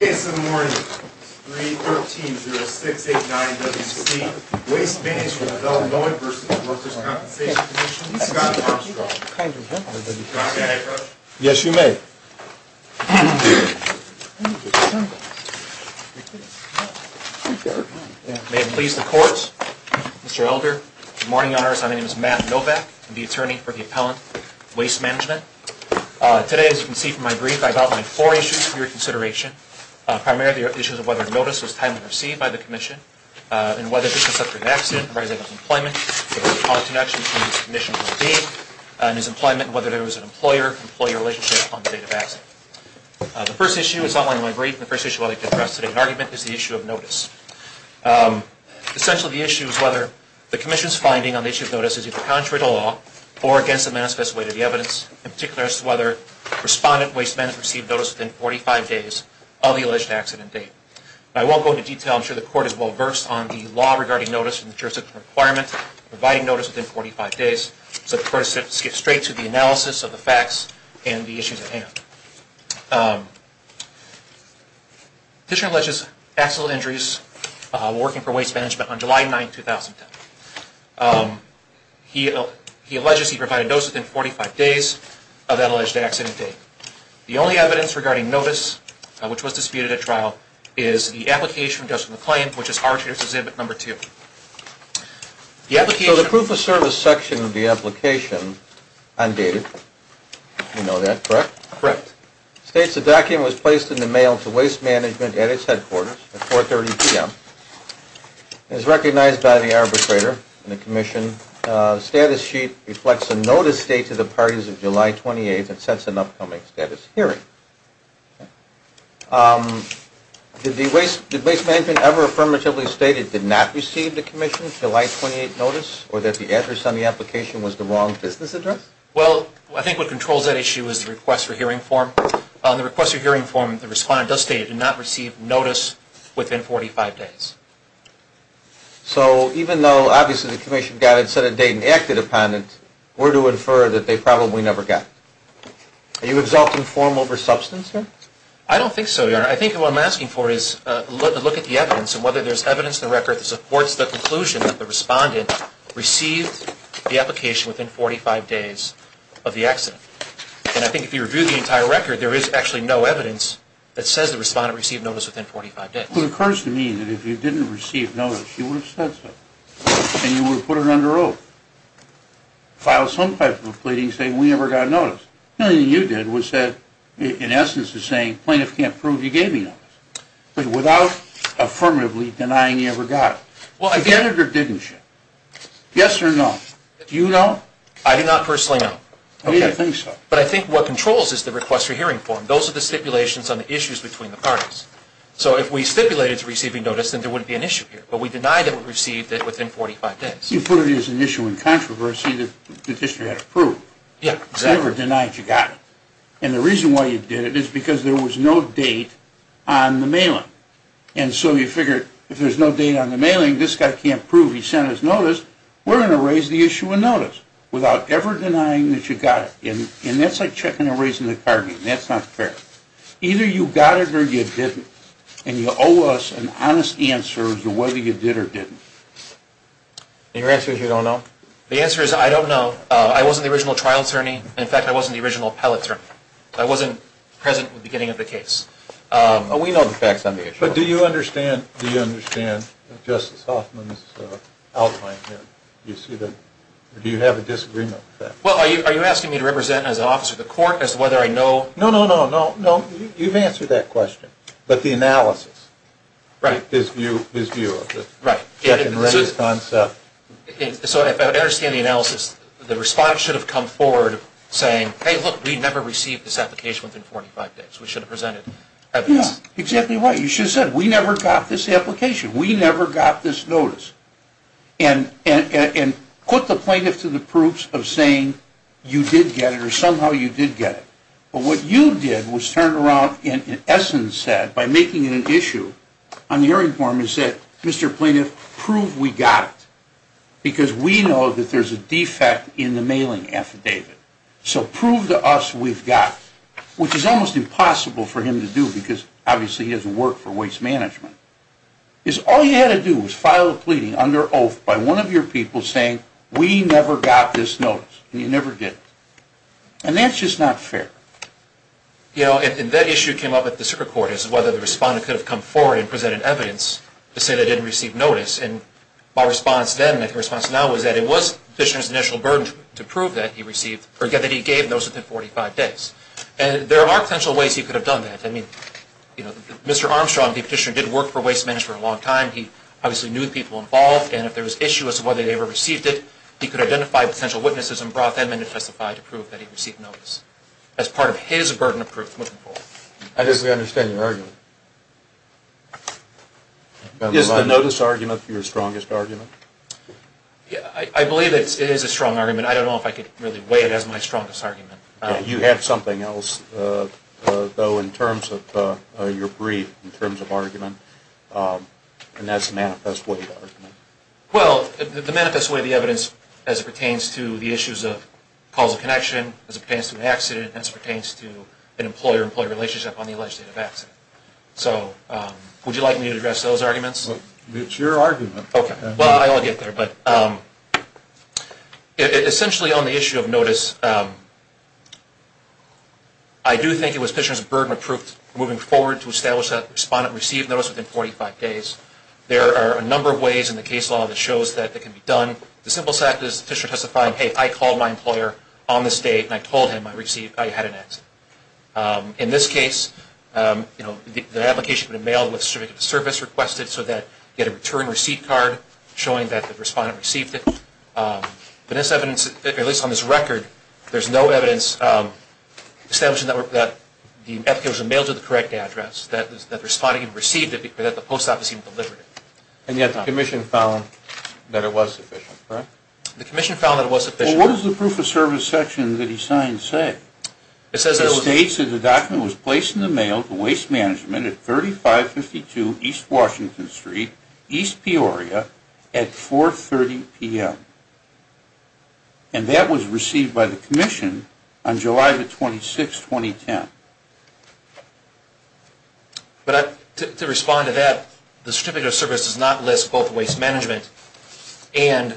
Case in the morning, 3-13-0689-WC, Waste Management of Illinois v. Workers' Compensation Commission, Scott Armstrong. May I have your attention? Yes, you may. May it please the courts, Mr. Elder, good morning on earth. My name is Matt Novak. I'm the attorney for the appellant, Waste Management. Today, as you can see from my brief, I've outlined four issues for your consideration. Primarily, the issues of whether notice was timely received by the commission, and whether this was such an accident, and whether there was employment and whether there was an employer-employee relationship on the date of accident. The first issue is outlined in my brief, and the first issue I'd like to address today in argument is the issue of notice. Essentially, the issue is whether the commission's finding on the issue of notice is either contrary to law or against the manifest way to the evidence, in particular as to whether the respondent, Waste Management, received notice within 45 days of the alleged accident date. I won't go into detail. I'm sure the court is well-versed on the law regarding notice in the jurisdiction requirement, providing notice within 45 days, so the court should skip straight to the analysis of the facts and the issues at hand. The petitioner alleges accidental injuries while working for Waste Management on July 9, 2010. He alleges he provided notice within 45 days of that alleged accident date. The only evidence regarding notice, which was disputed at trial, is the application of the claim, which is Archives Exhibit No. 2. So the proof of service section of the application, undated, you know that, correct? Correct. It states the document was placed in the mail to Waste Management at its headquarters at 4.30 p.m. As recognized by the arbitrator in the commission, the status sheet reflects a notice dated to the parties of July 28 that sets an upcoming status hearing. Did Waste Management ever affirmatively state it did not receive the commission's July 28 notice, or that the address on the application was the wrong business address? Well, I think what controls that issue is the request for hearing form. On the request for hearing form, the respondent does state it did not receive notice within 45 days. So even though, obviously, the commission got it, set a date, and acted upon it, we're to infer that they probably never got it. Are you exalting form over substance here? I don't think so, Your Honor. I think what I'm asking for is a look at the evidence and whether there's evidence in the record that supports the conclusion that the respondent received the application within 45 days of the accident. And I think if you review the entire record, there is actually no evidence that says the respondent received notice within 45 days. Well, it occurs to me that if you didn't receive notice, you would have said so, and you would have put her under oath, filed some type of a pleading saying we never got notice. The only thing you did was said, in essence, is saying plaintiff can't prove you gave me notice, but without affirmatively denying you ever got it. Well, I did. You did or didn't you? Yes or no? Do you know? I do not personally know. I mean, I think so. But I think what controls is the request for hearing form. Those are the stipulations on the issues between the parties. So if we stipulated to receiving notice, then there wouldn't be an issue here. But we denied that we received it within 45 days. You put it as an issue in controversy that the district had approved. Yes, exactly. You never denied you got it. And the reason why you did it is because there was no date on the mailing. And so you figured if there's no date on the mailing, this guy can't prove he sent us notice. We're going to raise the issue of notice without ever denying that you got it. And that's like checking and raising the card. That's not fair. Either you got it or you didn't. And you owe us an honest answer as to whether you did or didn't. And your answer is you don't know? The answer is I don't know. I was in the original trial attorney. In fact, I was in the original appellate attorney. I wasn't present at the beginning of the case. We know the facts on the issue. But do you understand Justice Hoffman's outline here? Do you have a disagreement with that? Well, are you asking me to represent as an officer of the court as to whether I know? No, no, no, no, no. You've answered that question. But the analysis, his view of the check and raise concept. So if I understand the analysis, the response should have come forward saying, Hey, look, we never received this application within 45 days. We should have presented evidence. Yeah, exactly right. You should have said we never got this application. We never got this notice. And put the plaintiff to the proofs of saying you did get it or somehow you did get it. But what you did was turn around and, in essence, said, by making it an issue, on the hearing form, and said, Mr. Plaintiff, prove we got it. Because we know that there's a defect in the mailing affidavit. So prove to us we've got it. Which is almost impossible for him to do because, obviously, he doesn't work for waste management. All you had to do was file a pleading under oath by one of your people saying, We never got this notice. And you never did. And that's just not fair. You know, and that issue came up at the circuit court, is whether the respondent could have come forward and presented evidence to say they didn't receive notice. And my response then and my response now is that it was the petitioner's initial burden to prove that he received or that he gave notice within 45 days. And there are potential ways he could have done that. I mean, you know, Mr. Armstrong, the petitioner, did work for waste management for a long time. He obviously knew the people involved. And if there was an issue as to whether they ever received it, he could identify potential witnesses and brought them in to testify to prove that he received notice. That's part of his burden of proof moving forward. I just don't understand your argument. Is the notice argument your strongest argument? I believe it is a strong argument. I don't know if I could really weigh it as my strongest argument. You have something else, though, in terms of your brief, in terms of argument. And that's the manifest way of the argument. Well, the manifest way of the evidence as it pertains to the issues of causal connection, as it pertains to an accident, as it pertains to an employer-employee relationship on the alleged date of accident. So would you like me to address those arguments? It's your argument. Okay. Well, I'll get there. But essentially on the issue of notice, I do think it was the petitioner's burden of proof moving forward to establish that the respondent received notice within 45 days. There are a number of ways in the case law that shows that it can be done. The simplest act is the petitioner testifying, hey, I called my employer on this date and I told him I had an accident. In this case, the application had been mailed with a certificate of service requested so that you had a return receipt card showing that the respondent received it. But this evidence, at least on this record, there's no evidence establishing that the application was mailed to the correct address, that the respondent received it, or that the post office even delivered it. And yet the commission found that it was sufficient, correct? The commission found that it was sufficient. Well, what does the proof of service section that he signed say? It states that the document was placed in the mail to Waste Management at 3552 East Washington Street, East Peoria, at 4.30 p.m. And that was received by the commission on July the 26th, 2010. But to respond to that, the certificate of service does not list both Waste Management and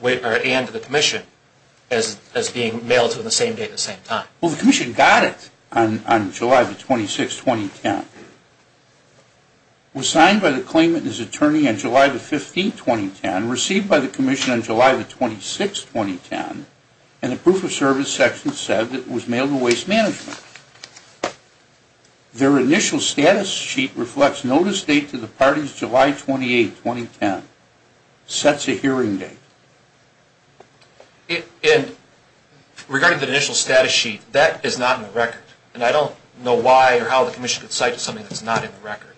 the commission as being mailed to the same date at the same time. Well, the commission got it on July the 26th, 2010. It was signed by the claimant and his attorney on July the 15th, 2010, received by the commission on July the 26th, 2010, and the proof of service section said that it was mailed to Waste Management. Their initial status sheet reflects notice date to the parties July 28th, 2010. Sets a hearing date. And regarding the initial status sheet, that is not in the record. And I don't know why or how the commission could cite something that's not in the record.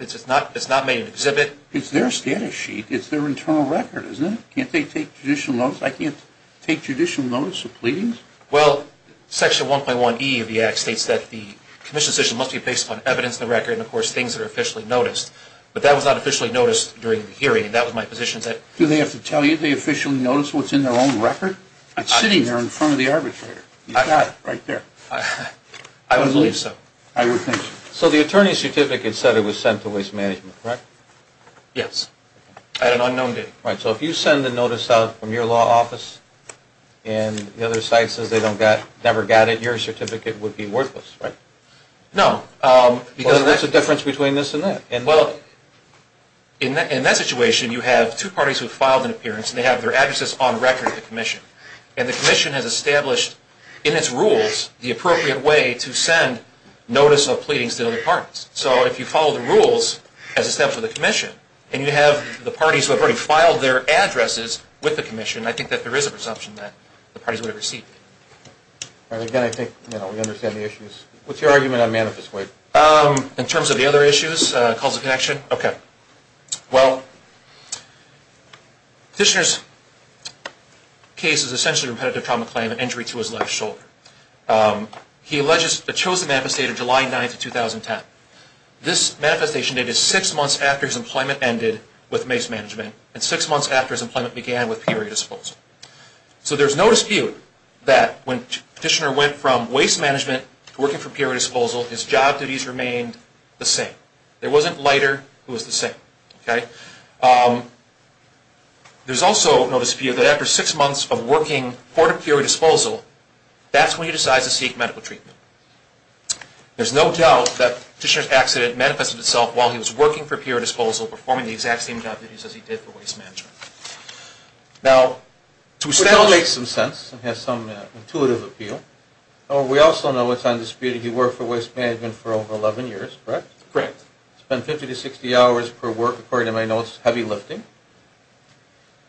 It's not made an exhibit. It's their status sheet. It's their internal record, isn't it? Can't they take judicial notice? I can't take judicial notice of pleadings. Well, section 1.1E of the Act states that the commission's decision must be based upon evidence in the record and, of course, things that are officially noticed. But that was not officially noticed during the hearing, and that was my position. Do they have to tell you they officially noticed what's in their own record? It's sitting there in front of the arbitrator. You've got it right there. I would believe so. So the attorney's certificate said it was sent to Waste Management, correct? Yes. At an unknown date. Right, so if you send a notice out from your law office and the other site says they never got it, your certificate would be worthless, right? No. Because that's the difference between this and that. Well, in that situation, you have two parties who filed an appearance, and they have their addresses on record at the commission. And the commission has established in its rules the appropriate way to send notice of pleadings to other parties. So if you follow the rules as established by the commission and you have the parties who have already filed their addresses with the commission, I think that there is a presumption that the parties would have received it. All right. Again, I think we understand the issues. What's your argument on manifest rape? In terms of the other issues, cause of connection? Okay. Well, the petitioner's case is essentially a repetitive trauma claim and injury to his left shoulder. He chose the manifest date of July 9, 2010. This manifestation dated six months after his employment ended with mace management and six months after his employment began with period disposal. So there's no dispute that when the petitioner went from waste management to working for period disposal, his job duties remained the same. There wasn't a lighter who was the same. Okay? And that's when he decides to seek medical treatment. There's no doubt that petitioner's accident manifested itself while he was working for period disposal, performing the exact same job duties as he did for waste management. Now, to establish... Which all makes some sense and has some intuitive appeal. We also know it's undisputed he worked for waste management for over 11 years, correct? Correct. Spent 50 to 60 hours per work, according to my notes, heavy lifting.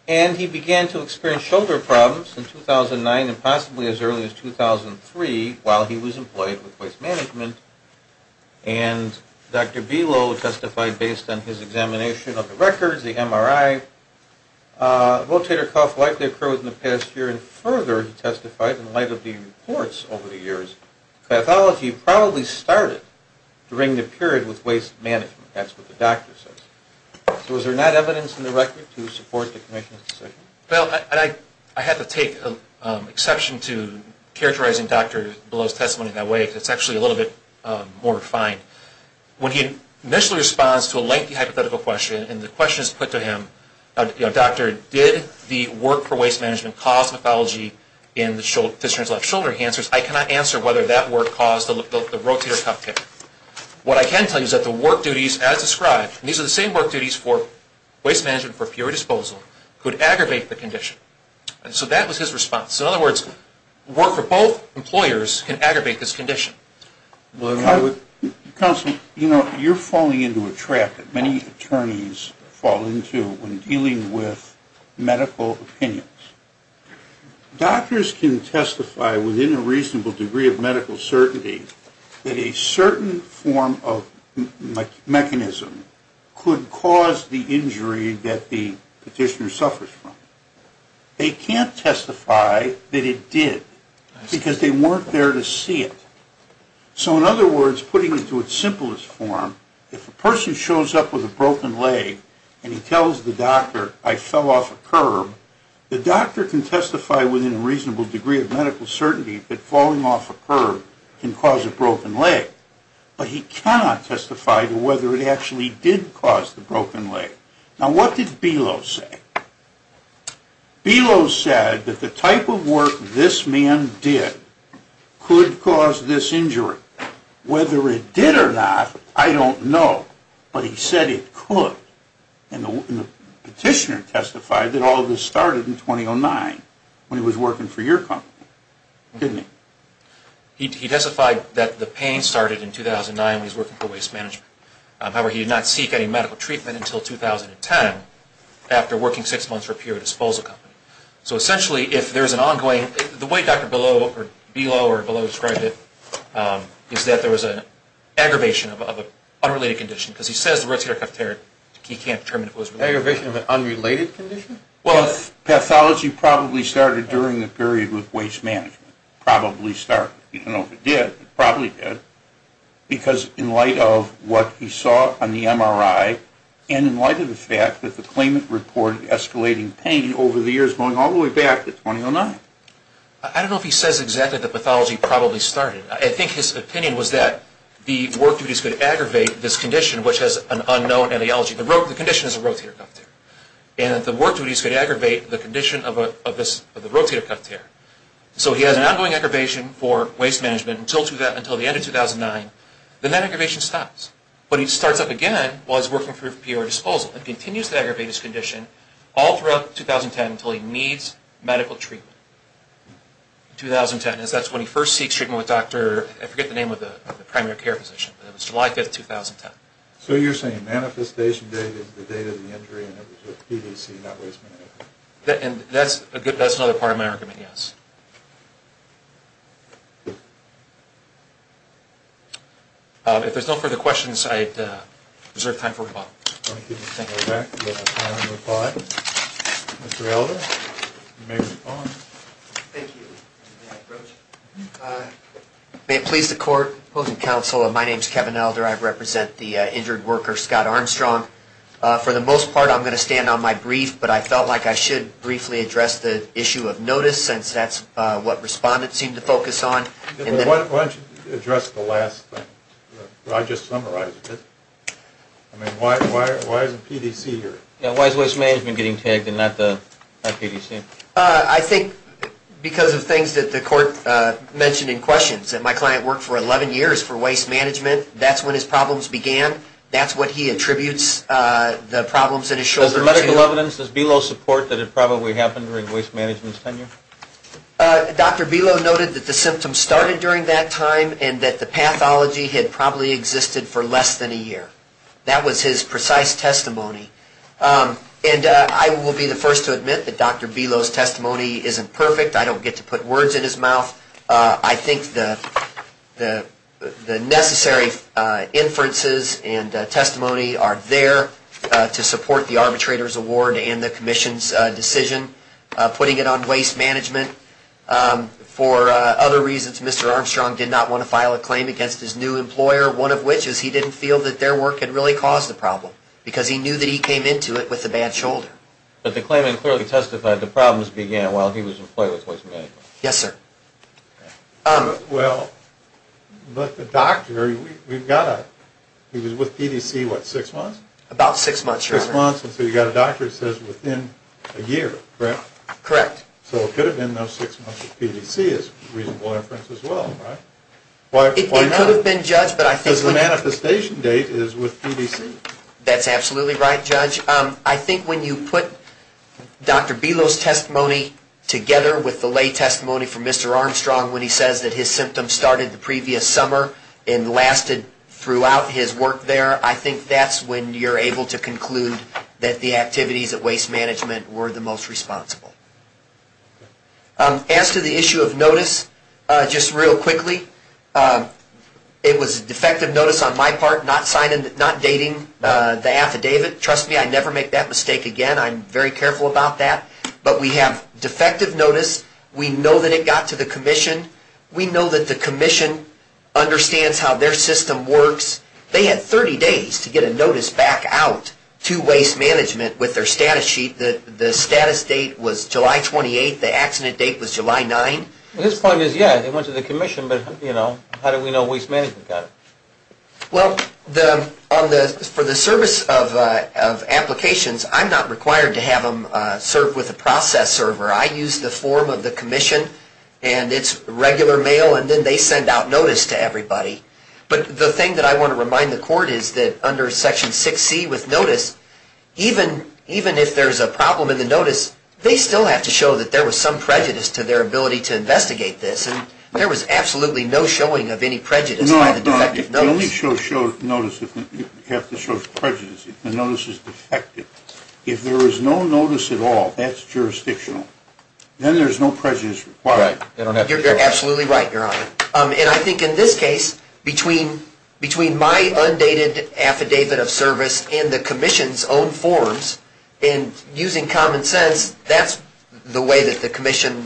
And he began to experience shoulder problems in 2009 and possibly as early as 2003 while he was employed with waste management. And Dr. Below testified based on his examination of the records, the MRI. Rotator cuff likely occurred in the past year. And further, he testified in light of the reports over the years, pathology probably started during the period with waste management. That's what the doctor says. So is there not evidence in the record to support the commission's decision? Well, I have to take exception to characterizing Dr. Below's testimony in that way because it's actually a little bit more refined. When he initially responds to a lengthy hypothetical question and the question is put to him, you know, doctor, did the work for waste management cause pathology in the petitioner's left shoulder? He answers, I cannot answer whether that work caused the rotator cuff kick. What I can tell you is that the work duties as described, and these are the same work duties for waste management for pure disposal, could aggravate the condition. So that was his response. In other words, work for both employers can aggravate this condition. Counsel, you know, you're falling into a trap that many attorneys fall into when dealing with medical opinions. Doctors can testify within a reasonable degree of medical certainty that a certain form of mechanism could cause the injury that the petitioner suffers from. They can't testify that it did because they weren't there to see it. So in other words, putting it to its simplest form, if a person shows up with a broken leg and he tells the doctor, I fell off a curb, the doctor can testify within a reasonable degree of medical certainty that falling off a curb can cause a broken leg, but he cannot testify to whether it actually did cause the broken leg. Now, what did Belos say? Belos said that the type of work this man did could cause this injury. Whether it did or not, I don't know, but he said it could. And the petitioner testified that all of this started in 2009 when he was working for your company, didn't he? He testified that the pain started in 2009 when he was working for waste management. However, he did not seek any medical treatment until 2010 after working six months for a pure disposal company. So essentially, if there's an ongoing – the way Dr. Belos described it is that there was an aggravation of an unrelated condition because he says the rotator cuff tear, he can't determine if it was related. Aggravation of an unrelated condition? Well, the pathology probably started during the period with waste management. Probably started. You don't know if it did, but it probably did, because in light of what he saw on the MRI and in light of the fact that the claimant reported escalating pain over the years going all the way back to 2009. I don't know if he says exactly that the pathology probably started. I think his opinion was that the work duties could aggravate this condition, which has an unknown allelogy. The condition is a rotator cuff tear. And that the work duties could aggravate the condition of the rotator cuff tear. So he has an ongoing aggravation for waste management until the end of 2009. Then that aggravation stops. But he starts up again while he's working for a pure disposal and continues to aggravate his condition all throughout 2010 until he needs medical treatment. 2010. That's when he first seeks treatment with Dr. – I forget the name of the primary care physician. It was July 5, 2010. So you're saying manifestation date is the date of the injury and it was with PVC, not waste management. And that's another part of my argument, yes. If there's no further questions, I reserve time for rebuttal. Thank you. We're back. We have time for rebuttal. Mr. Elder, you may respond. Thank you. May it please the Court, opposing counsel, my name is Kevin Elder. I represent the injured worker, Scott Armstrong. For the most part, I'm going to stand on my brief, but I felt like I should briefly address the issue of notice since that's what respondents seem to focus on. Why don't you address the last thing? I just summarized it. Why is PVC here? Why is waste management getting tagged and not PVC? I think because of things that the Court mentioned in questions. My client worked for 11 years for waste management. That's when his problems began. That's what he attributes the problems in his shoulder to. Does the medical evidence, does BELO support that it probably happened during waste management's tenure? Dr. BELO noted that the symptoms started during that time and that the pathology had probably existed for less than a year. That was his precise testimony. And I will be the first to admit that Dr. BELO's testimony isn't perfect. I don't get to put words in his mouth. I think the necessary inferences and testimony are there to support the arbitrator's award and the Commission's decision putting it on waste management. For other reasons, Mr. Armstrong did not want to file a claim against his new employer, one of which is he didn't feel that their work had really caused the problem because he knew that he came into it with a bad shoulder. while he was employed with waste management. Yes, sir. Well, but the doctor, we've got a... He was with PDC, what, six months? About six months, Your Honor. Six months, and so you've got a doctor that says within a year, correct? Correct. So it could have been those six months with PDC is a reasonable inference as well, right? It could have been, Judge, but I think... Because the manifestation date is with PDC. That's absolutely right, Judge. I think when you put Dr. Belos' testimony together with the lay testimony from Mr. Armstrong when he says that his symptoms started the previous summer and lasted throughout his work there, I think that's when you're able to conclude that the activities at waste management were the most responsible. As to the issue of notice, just real quickly, it was a defective notice on my part, not dating the affidavit. Trust me, I never make that mistake again. I'm very careful about that. But we have defective notice. We know that it got to the commission. We know that the commission understands how their system works. They had 30 days to get a notice back out to waste management with their status sheet. The status date was July 28. The accident date was July 9. His point is, yeah, they went to the commission, but how do we know waste management got it? Well, for the service of applications, I'm not required to have them serve with a process server. I use the form of the commission, and it's regular mail, and then they send out notice to everybody. But the thing that I want to remind the court is that under Section 6C with notice, even if there's a problem in the notice, they still have to show that there was some prejudice to their ability to investigate this. There was absolutely no showing of any prejudice by the defective notice. No, it only shows prejudice if the notice is defective. If there is no notice at all, that's jurisdictional. Then there's no prejudice required. You're absolutely right, Your Honor. And I think in this case, between my undated affidavit of service and the commission's own forms, and using common sense, that's the way that the commission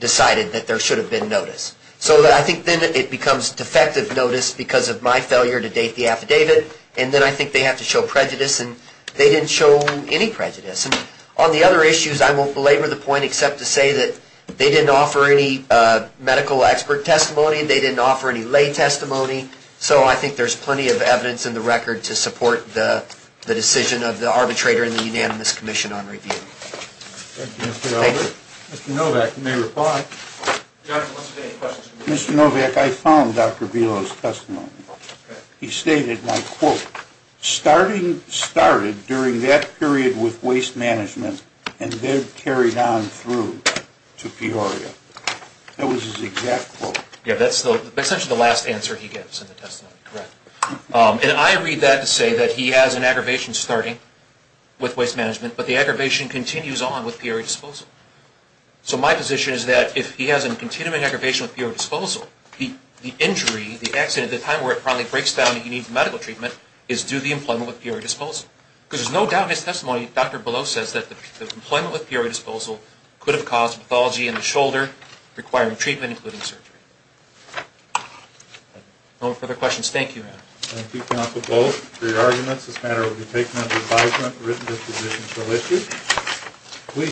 decided that there should have been notice. So I think then it becomes defective notice because of my failure to date the affidavit, and then I think they have to show prejudice, and they didn't show any prejudice. On the other issues, I won't belabor the point except to say that they didn't offer any medical expert testimony, they didn't offer any lay testimony, so I think there's plenty of evidence in the record to support the decision of the arbitrator and the unanimous commission on review. Thank you, Mr. Elbert. Mr. Novak, you may reply. Mr. Novak, I found Dr. Vilo's testimony. He stated, my quote, starting started during that period with waste management and then carried on through to Peoria. That was his exact quote. Yeah, that's essentially the last answer he gives in the testimony, correct. And I read that to say that he has an aggravation starting with waste management, but the aggravation continues on with Peoria disposal. So my position is that if he has a continuing aggravation with Peoria disposal, the injury, the accident, the time where it probably breaks down and he needs medical treatment, is due to the employment with Peoria disposal. Because there's no doubt in his testimony, Dr. Vilo says that the employment with Peoria disposal could have caused pathology in the shoulder, requiring treatment, including surgery. No further questions. Thank you. Thank you, counsel, both for your arguments. This matter will be taken under advisement, written disposition shall issue.